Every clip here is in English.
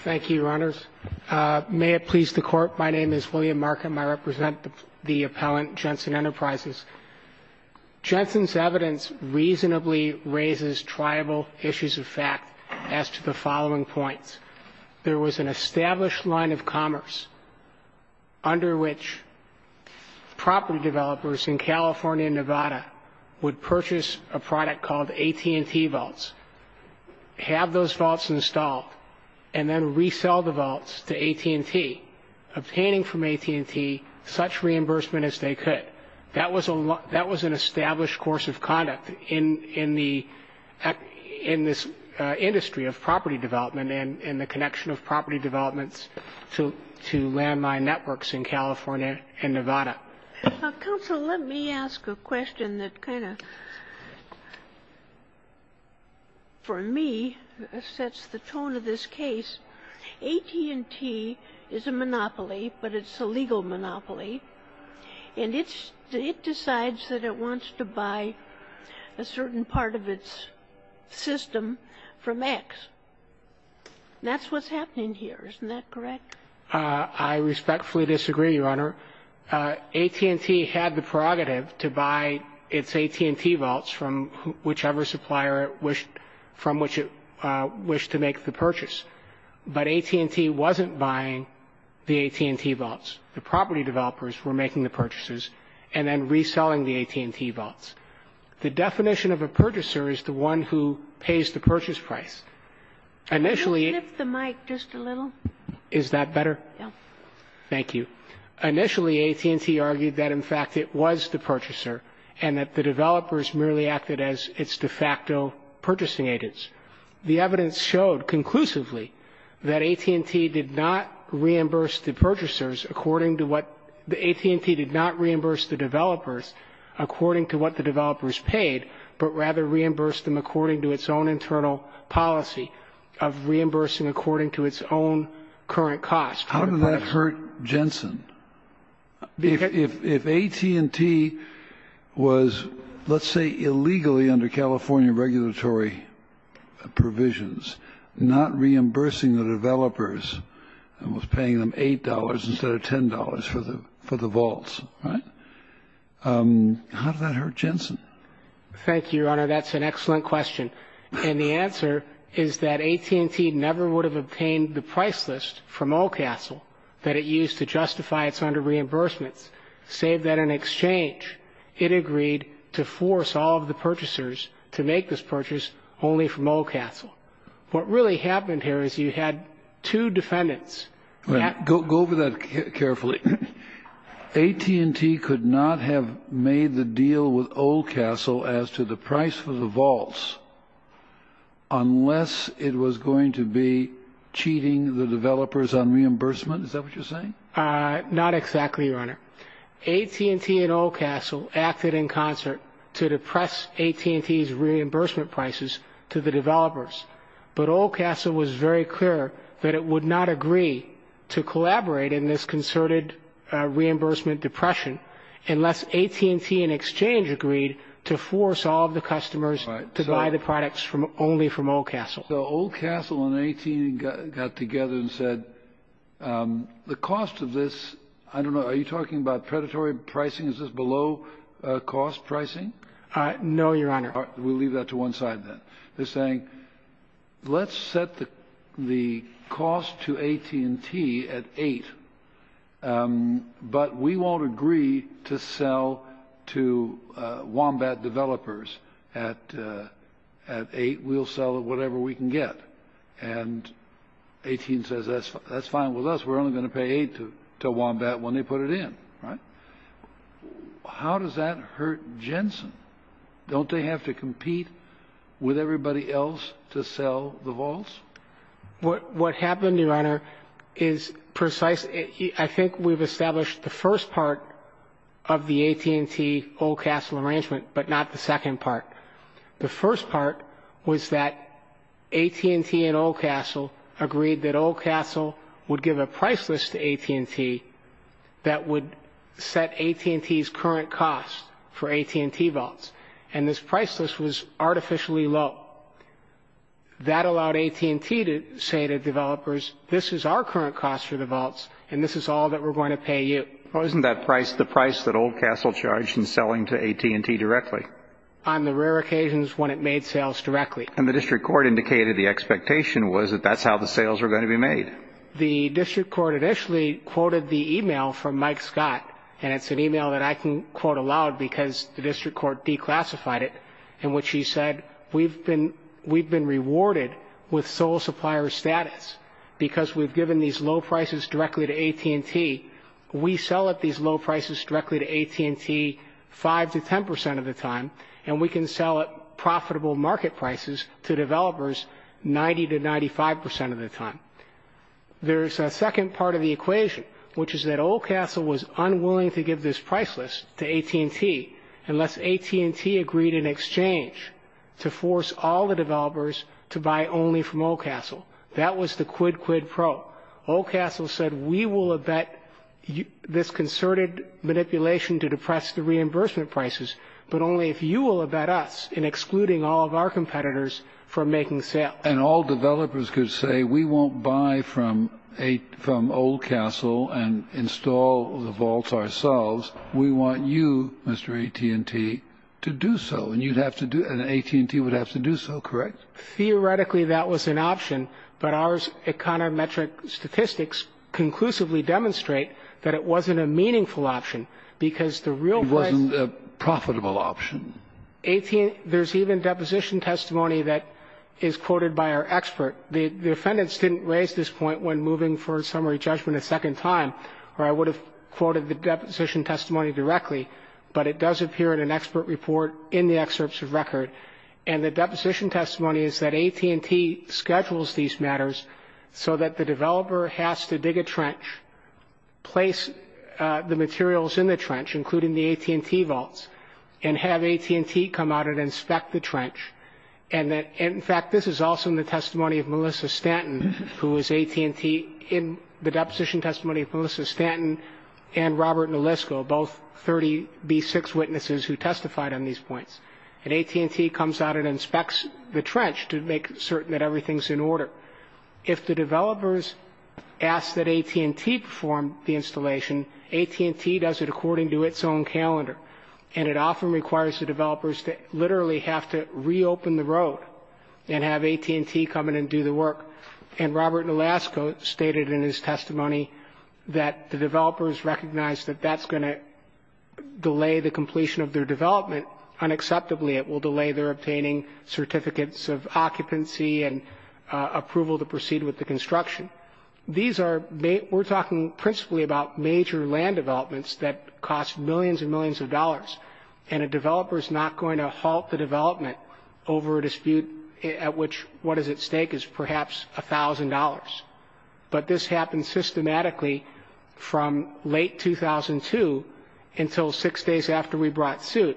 Thank you, Your Honors. May it please the Court, my name is William Markham. I represent the appellant, Jensen Enterprises. Jensen's evidence reasonably raises triable issues of fact as to the following points. There was an established line of commerce under which property developers in California and Nevada would purchase a product called and resell the vaults to AT&T, obtaining from AT&T such reimbursement as they could. That was an established course of conduct in this industry of property development and the connection of property developments to landmine networks in California and Nevada. Counsel, let me ask a question that kind of, for me, sets the tone of this case. AT&T is a monopoly, but it's a legal monopoly, and it decides that it wants to buy a certain part of its system from X. That's what's happening here, isn't that correct? I respectfully disagree, Your Honor. AT&T had the prerogative to buy its AT&T vaults from whichever supplier it wished to make the purchase. But AT&T wasn't buying the AT&T vaults. The property developers were making the purchases and then reselling the AT&T vaults. The definition of a purchaser is the one who pays the purchase price. Can you lift the mic just a little? Is that better? Yes. Thank you. Initially, AT&T argued that, in fact, it was the purchaser and that the developers merely acted as its de facto purchasing agents. The evidence showed conclusively that AT&T did not reimburse the purchasers according to what the AT&T did not reimburse the developers according to what the developers paid, but rather reimbursed them according to its own internal policy of reimbursing according to its own current cost. How did that hurt Jensen? If AT&T was, let's say, illegally under California regulatory provisions, not reimbursing the developers and was paying them $8 instead of $10 for the vaults, how did that hurt Jensen? Thank you, Your Honor. That's an excellent question. And the answer is that AT&T never would have obtained the price list from Old Castle that it used to justify its under-reimbursements, save that in exchange, it agreed to force all of the purchasers to make this purchase only from Old Castle. What really happened here is you had two defendants. Go over that carefully. AT&T could not have made the deal with Old Castle as to the price for the vaults unless it was going to be cheating the developers on reimbursement. Is that what you're saying? Not exactly, Your Honor. AT&T and Old Castle acted in concert to depress AT&T's reimbursement prices to the developers, but Old Castle was very clear that it would not agree to collaborate in this concerted reimbursement depression unless AT&T in exchange agreed to force all of the customers to buy the products only from Old Castle. So Old Castle and AT&T got together and said, the cost of this, I don't know, are you talking about predatory pricing, is this below-cost pricing? No, Your Honor. We'll leave that to one side then. They're saying, let's set the cost to AT&T at $8,000, but we won't agree to sell to Wombat developers at $8,000. We'll sell whatever we can get. And AT&T says, that's fine with us. We're only going to pay $8,000 to Wombat when they put it in, right? How does that hurt Jensen? Don't they have to compete with everybody else to sell the vaults? What happened, Your Honor, is precise. I think we've established the first part of the AT&T-Old Castle arrangement, but not the second part. The first part was that AT&T and Old Castle agreed that Old Castle would give a price list to AT&T that would set AT&T's current cost for AT&T vaults, and this price list was artificially low. That allowed AT&T to say to developers, this is our current cost for the vaults, and this is all that we're going to pay you. Well, isn't that the price that Old Castle charged in selling to AT&T directly? On the rare occasions when it made sales directly. And the district court indicated the expectation was that that's how the sales were going to be made. And the district court initially quoted the e-mail from Mike Scott, and it's an e-mail that I can quote aloud because the district court declassified it, in which he said, we've been rewarded with sole supplier status because we've given these low prices directly to AT&T. We sell at these low prices directly to AT&T 5 to 10 percent of the time, and we can sell at profitable market prices to developers 90 to 95 percent of the time. There's a second part of the equation, which is that Old Castle was unwilling to give this price list to AT&T unless AT&T agreed in exchange to force all the developers to buy only from Old Castle. That was the quid quid pro. Old Castle said, we will abet this concerted manipulation to depress the reimbursement prices, but only if you will abet us in excluding all of our competitors from making sales. And all developers could say, we won't buy from Old Castle and install the vaults ourselves. We want you, Mr. AT&T, to do so. And you'd have to do, and AT&T would have to do so, correct? Theoretically, that was an option, but our econometric statistics conclusively demonstrate that it wasn't a meaningful option because the real price wasn't a profitable option. There's even deposition testimony that is quoted by our expert. The defendants didn't raise this point when moving for a summary judgment a second time, or I would have quoted the deposition testimony directly, but it does appear in an expert report in the excerpts of record. And the deposition testimony is that AT&T schedules these matters so that the developer has to dig a trench, place the materials in the trench, including the AT&T vaults, and have AT&T come out and inspect the trench. In fact, this is also in the testimony of Melissa Stanton, who was AT&T in the deposition testimony of Melissa Stanton and Robert Nelisco, both 30B6 witnesses who testified on these points. And AT&T comes out and inspects the trench to make certain that everything's in order. If the developers ask that AT&T perform the installation, AT&T does it according to its own calendar, and it often requires the developers to literally have to reopen the road and have AT&T come in and do the work. And Robert Nelisco stated in his testimony that the developers recognize that that's going to delay the completion of their development. Unacceptably, it will delay their obtaining certificates of occupancy and approval to proceed with the construction. We're talking principally about major land developments that cost millions and millions of dollars, and a developer's not going to halt the development over a dispute at which what is at stake is perhaps $1,000. But this happened systematically from late 2002 until six days after we brought suit.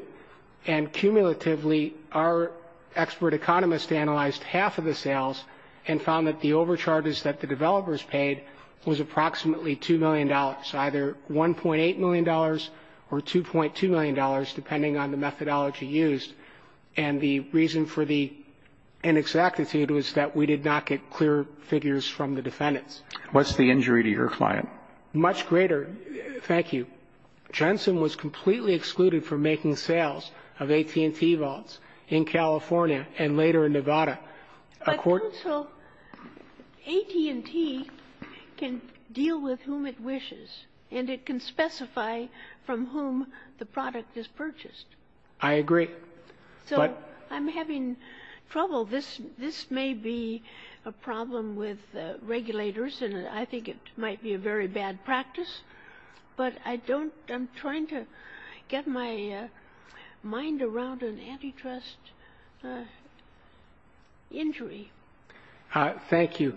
And cumulatively, our expert economist analyzed half of the sales and found that the overcharges that the developers paid was approximately $2 million, either $1.8 million or $2.2 million, depending on the methodology used. And the reason for the inexactitude was that we did not get clear figures from the defendants. What's the injury to your client? Much greater. Thank you. Jensen was completely excluded from making sales of AT&T vaults in California and later in Nevada. But also AT&T can deal with whom it wishes, and it can specify from whom the product is purchased. I agree. So I'm having trouble. This may be a problem with regulators, and I think it might be a very bad practice. But I don't – I'm trying to get my mind around an antitrust injury. Thank you.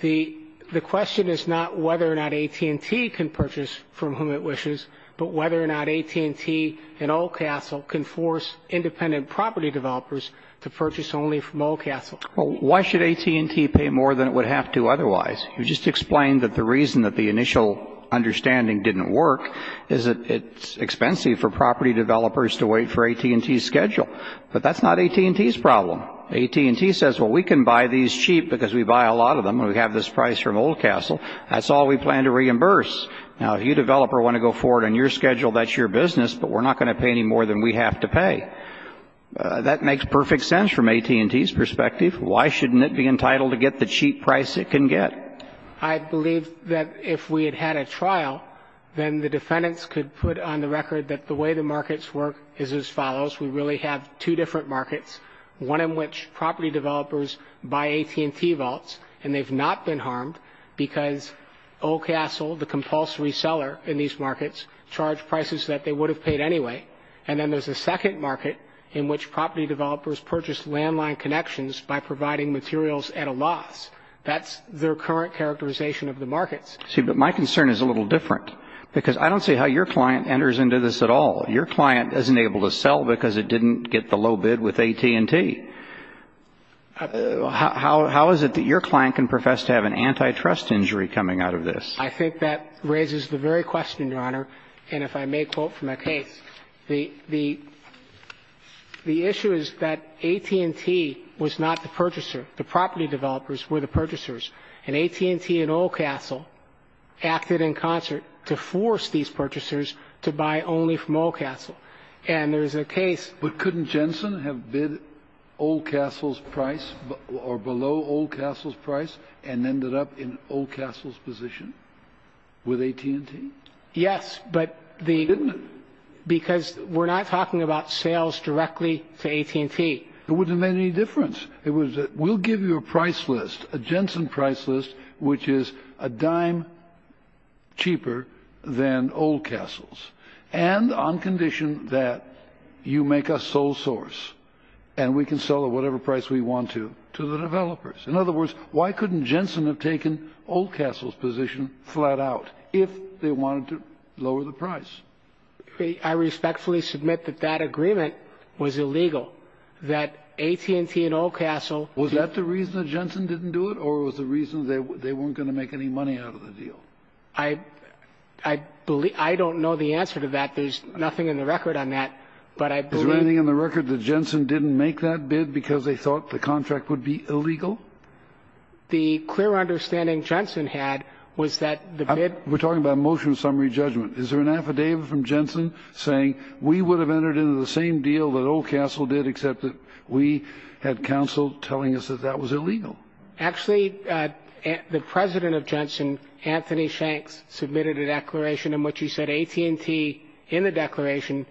The question is not whether or not AT&T can purchase from whom it wishes, but whether or not AT&T and Old Castle can force independent property developers to purchase only from Old Castle. Well, why should AT&T pay more than it would have to otherwise? You just explained that the reason that the initial understanding didn't work is that it's expensive for property developers to wait for AT&T's schedule. But that's not AT&T's problem. AT&T says, well, we can buy these cheap because we buy a lot of them, and we have this price from Old Castle. That's all we plan to reimburse. Now, if you developer want to go forward on your schedule, that's your business, but we're not going to pay any more than we have to pay. That makes perfect sense from AT&T's perspective. Why shouldn't it be entitled to get the cheap price it can get? I believe that if we had had a trial, then the defendants could put on the record that the way the markets work is as follows. We really have two different markets, one in which property developers buy AT&T vaults, and they've not been harmed because Old Castle, the compulsory seller in these markets, charged prices that they would have paid anyway. And then there's a second market in which property developers purchase landline connections by providing materials at a loss. That's their current characterization of the markets. See, but my concern is a little different because I don't see how your client enters into this at all. Your client isn't able to sell because it didn't get the low bid with AT&T. How is it that your client can profess to have an antitrust injury coming out of this? I think that raises the very question, Your Honor, and if I may quote from that case. The issue is that AT&T was not the purchaser. The property developers were the purchasers, and AT&T and Old Castle acted in concert to force these purchasers to buy only from Old Castle. But couldn't Jensen have bid Old Castle's price or below Old Castle's price and ended up in Old Castle's position with AT&T? Yes, but because we're not talking about sales directly to AT&T. It wouldn't have made any difference. We'll give you a price list, a Jensen price list, which is a dime cheaper than Old Castle's, and on condition that you make us sole source and we can sell at whatever price we want to to the developers. In other words, why couldn't Jensen have taken Old Castle's position flat out if they wanted to lower the price? I respectfully submit that that agreement was illegal, that AT&T and Old Castle— Was that the reason that Jensen didn't do it, or was it the reason they weren't going to make any money out of the deal? I don't know the answer to that. There's nothing in the record on that, but I believe— Is there anything in the record that Jensen didn't make that bid because they thought the contract would be illegal? The clear understanding Jensen had was that the bid— We're talking about a motion of summary judgment. Is there an affidavit from Jensen saying, we would have entered into the same deal that Old Castle did except that we had counsel telling us that that was illegal? Actually, the president of Jensen, Anthony Shanks, submitted a declaration in which he said AT&T, in the declaration,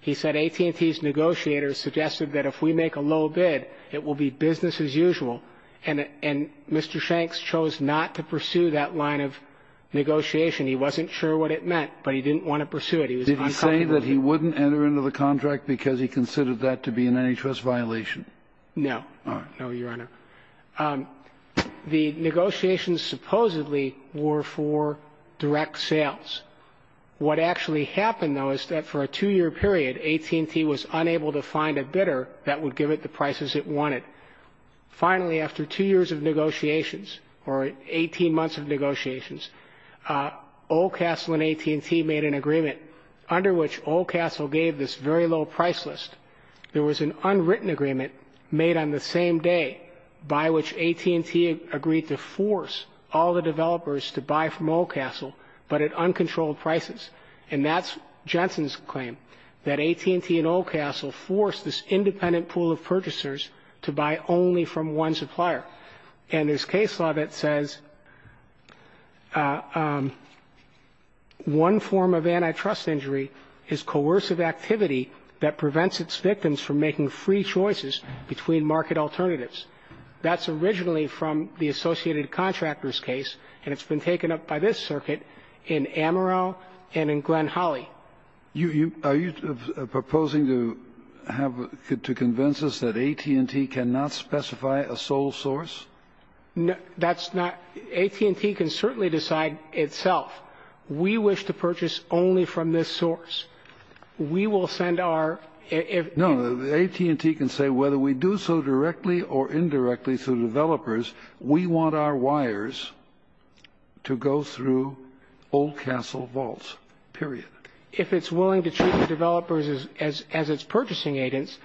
he said AT&T's negotiators suggested that if we make a low bid, it will be business as usual. And Mr. Shanks chose not to pursue that line of negotiation. He wasn't sure what it meant, but he didn't want to pursue it. He was uncomfortable with it. Did he say that he wouldn't enter into the contract because he considered that to be an antitrust violation? No. All right. No, Your Honor. The negotiations supposedly were for direct sales. What actually happened, though, is that for a two-year period, AT&T was unable to find a bidder that would give it the prices it wanted. Finally, after two years of negotiations, or 18 months of negotiations, Old Castle and AT&T made an agreement under which Old Castle gave this very low price list. There was an unwritten agreement made on the same day by which AT&T agreed to force all the developers to buy from Old Castle, but at uncontrolled prices. And that's Jensen's claim, that AT&T and Old Castle forced this independent pool of purchasers to buy only from one supplier. And there's case law that says one form of antitrust injury is coercive activity that prevents its victims from making free choices between market alternatives. That's originally from the Associated Contractors case, and it's been taken up by this circuit in Amarillo and in Glen Holly. Are you proposing to have to convince us that AT&T cannot specify a sole source? That's not AT&T can certainly decide itself. We wish to purchase only from this source. We will send our ---- No. AT&T can say whether we do so directly or indirectly through developers, we want our wires to go through Old Castle vaults, period. If it's willing to treat the developers as its purchasing agents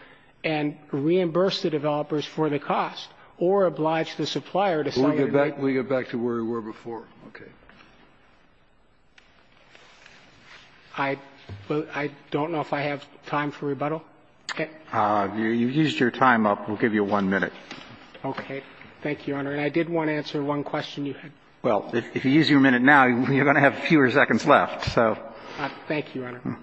and reimburse the developers for the cost or oblige the supplier to sell ---- We'll get back to where we were before. Okay. I don't know if I have time for rebuttal. Okay. You used your time up. We'll give you one minute. Okay. Thank you, Your Honor. And I did want to answer one question you had. Well, if you use your minute now, you're going to have fewer seconds left, so. Thank you, Your Honor.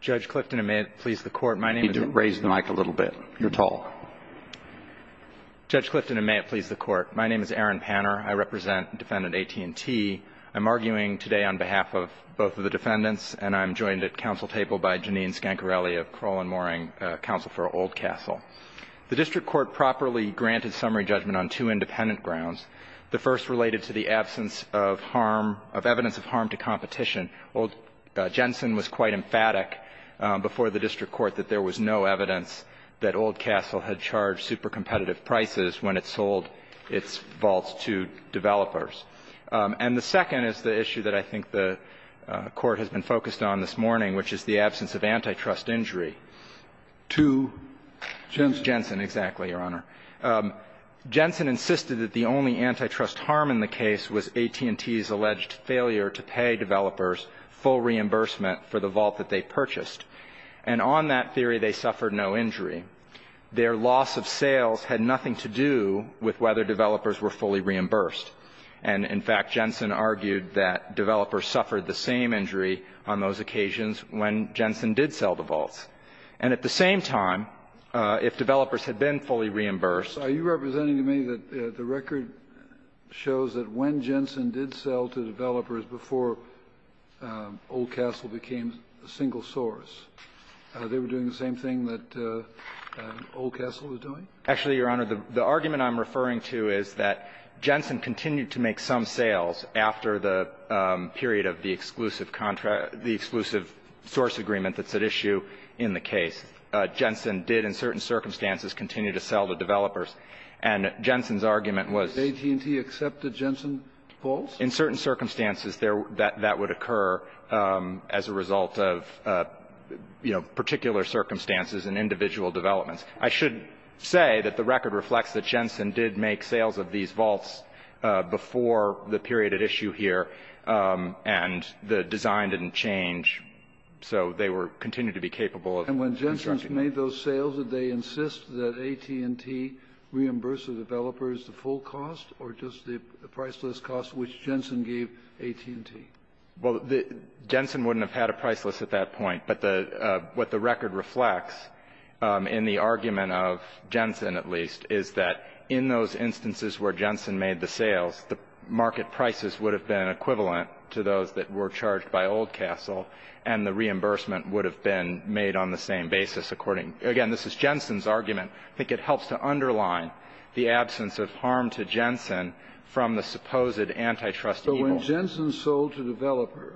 Judge Clifton, and may it please the Court, my name is ---- You need to raise the mic a little bit. You're tall. Judge Clifton, and may it please the Court, my name is Aaron Panner. I represent Defendant AT&T. I'm arguing today on behalf of both of the defendants, and I'm joined at council table by Janine Scancarelli of Crowell & Mooring, counsel for Old Castle. The district court properly granted summary judgment on two independent grounds. The first related to the absence of harm ---- of evidence of harm to competition. Old ---- Jensen was quite emphatic before the district court that there was no evidence that Old Castle had charged super competitive prices when it sold its vaults to developers. And the second is the issue that I think the Court has been focused on this morning, which is the absence of antitrust injury to Jensen. Exactly, Your Honor. Jensen insisted that the only antitrust harm in the case was AT&T's alleged failure to pay developers full reimbursement for the vault that they purchased. And on that theory, they suffered no injury. Their loss of sales had nothing to do with whether developers were fully reimbursed. And, in fact, Jensen argued that developers suffered the same injury on those occasions when Jensen did sell the vaults. And at the same time, if developers had been fully reimbursed ---- Are you representing to me that the record shows that when Jensen did sell to developers before Old Castle became a single source, they were doing the same thing that Old Castle was doing? Actually, Your Honor, the argument I'm referring to is that Jensen continued to make some sales after the period of the exclusive contract, the exclusive source agreement that's at issue in the case. Jensen did, in certain circumstances, continue to sell to developers. And Jensen's argument was ---- Did AT&T accept the Jensen vaults? In certain circumstances, that would occur as a result of, you know, particular circumstances and individual developments. I should say that the record reflects that Jensen did make sales of these vaults before the period at issue here, and the design didn't change. So they were ---- continue to be capable of constructing. And when Jensen made those sales, did they insist that AT&T reimburse the developers the full cost or just the priceless cost which Jensen gave AT&T? Well, Jensen wouldn't have had a priceless at that point. But the ---- what the record reflects in the argument of Jensen, at least, is that in those instances where Jensen made the sales, the market prices would have been equivalent to those that were charged by Old Castle, and the reimbursement would have been made on the same basis according ---- again, this is Jensen's argument. I think it helps to underline the absence of harm to Jensen from the supposed antitrust evils. So Jensen sold to developer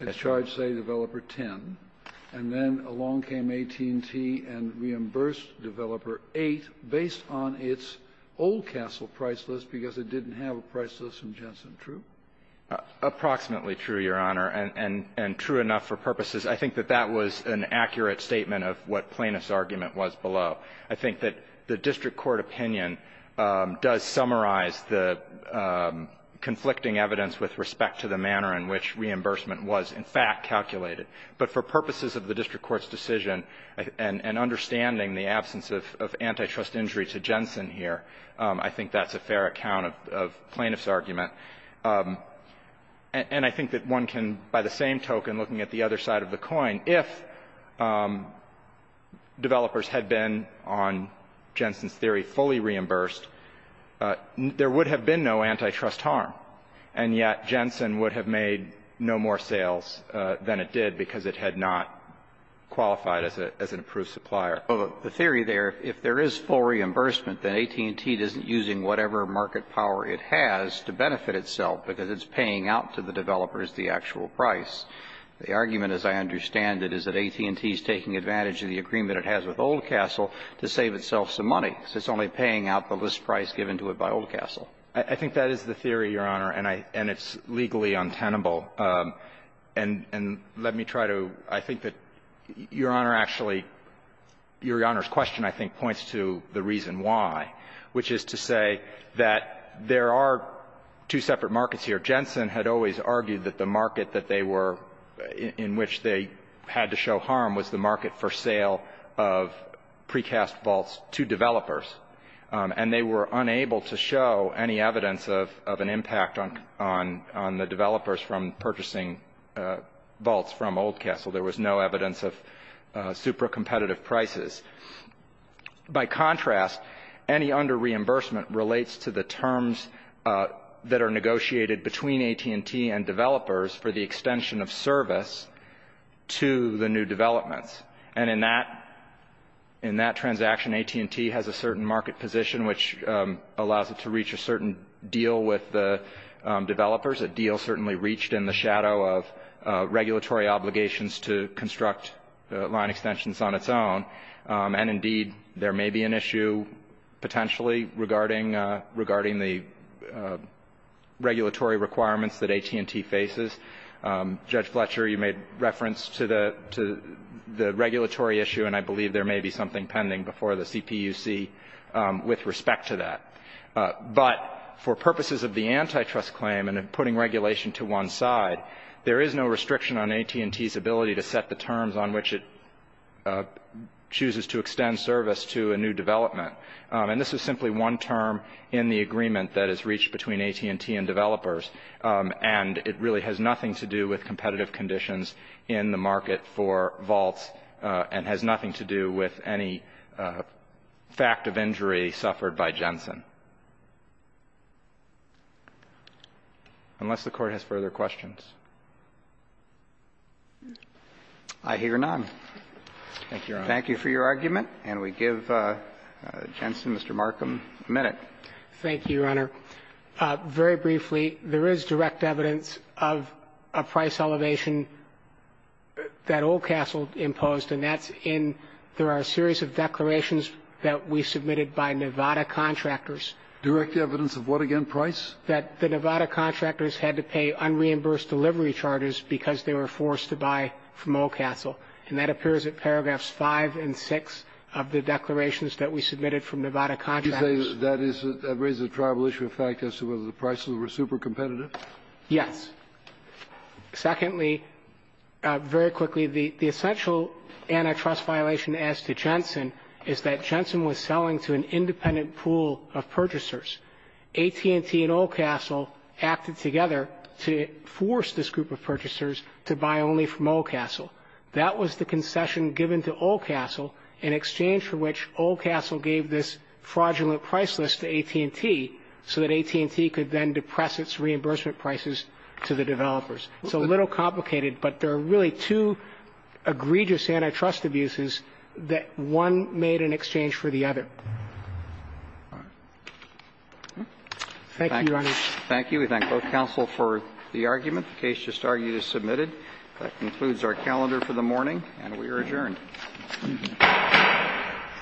and charged, say, developer 10, and then along came AT&T and reimbursed developer 8 based on its Old Castle pricelist because it didn't have a pricelist in Jensen, true? Approximately true, Your Honor, and true enough for purposes. I think that that was an accurate statement of what Plaintiff's argument was below. I think that the district court opinion does summarize the conflicting evidence with respect to the manner in which reimbursement was, in fact, calculated. But for purposes of the district court's decision and understanding the absence of antitrust injury to Jensen here, I think that's a fair account of Plaintiff's argument. And I think that one can, by the same token, looking at the other side of the coin, if developers had been, on Jensen's theory, fully reimbursed, there would have been no antitrust harm. And yet Jensen would have made no more sales than it did because it had not qualified as an approved supplier. Well, the theory there, if there is full reimbursement, then AT&T isn't using whatever market power it has to benefit itself, because it's paying out to the developers the actual price. The argument, as I understand it, is that AT&T is taking advantage of the agreement it has with Old Castle to save itself some money, because it's only paying out the list price given to it by Old Castle. I think that is the theory, Your Honor, and I — and it's legally untenable. And let me try to — I think that Your Honor actually — Your Honor's question, I think, points to the reason why, which is to say that there are two separate markets here. Jensen had always argued that the market that they were — in which they had to show harm was the market for sale of precast vaults to developers. And they were unable to show any evidence of an impact on the developers from purchasing vaults from Old Castle. There was no evidence of super competitive prices. By contrast, any under-reimbursement relates to the terms that are negotiated between AT&T and developers for the extension of service to the new developments. And in that transaction, AT&T has a certain market position, which allows it to reach a certain deal with the developers, a deal certainly reached in the shadow of regulatory obligations to construct line extensions on its own. And indeed, there may be an issue potentially regarding the regulatory requirements that AT&T faces. Judge Fletcher, you made reference to the regulatory issue, and I believe there may be something pending before the CPUC with respect to that. But for purposes of the antitrust claim and putting regulation to one side, there chooses to extend service to a new development. And this is simply one term in the agreement that is reached between AT&T and developers. And it really has nothing to do with competitive conditions in the market for vaults and has nothing to do with any fact of injury suffered by Jensen. Unless the Court has further questions. I hear none. Thank you, Your Honor. Thank you for your argument, and we give Jensen, Mr. Markham, a minute. Thank you, Your Honor. Very briefly, there is direct evidence of a price elevation that Old Castle imposed, and that's in there are a series of declarations that we submitted by Nevada contractors. Direct evidence of what again, price? That the Nevada contractors had to pay unreimbursed delivery charters because they were forced to buy from Old Castle. And that appears in paragraphs 5 and 6 of the declarations that we submitted from Nevada contractors. You say that is a reasonable issue of fact as to whether the prices were supercompetitive? Yes. Secondly, very quickly, the essential antitrust violation as to Jensen is that Jensen was selling to an independent pool of purchasers. AT&T and Old Castle acted together to force this group of purchasers to buy only from Old Castle. That was the concession given to Old Castle in exchange for which Old Castle gave this fraudulent price list to AT&T so that AT&T could then depress its reimbursement prices to the developers. It's a little complicated, but there are really two egregious antitrust abuses that one made in exchange for the other. Thank you, Your Honor. Thank you. We thank both counsel for the argument. The case just argued is submitted. That concludes our calendar for the morning, and we are adjourned.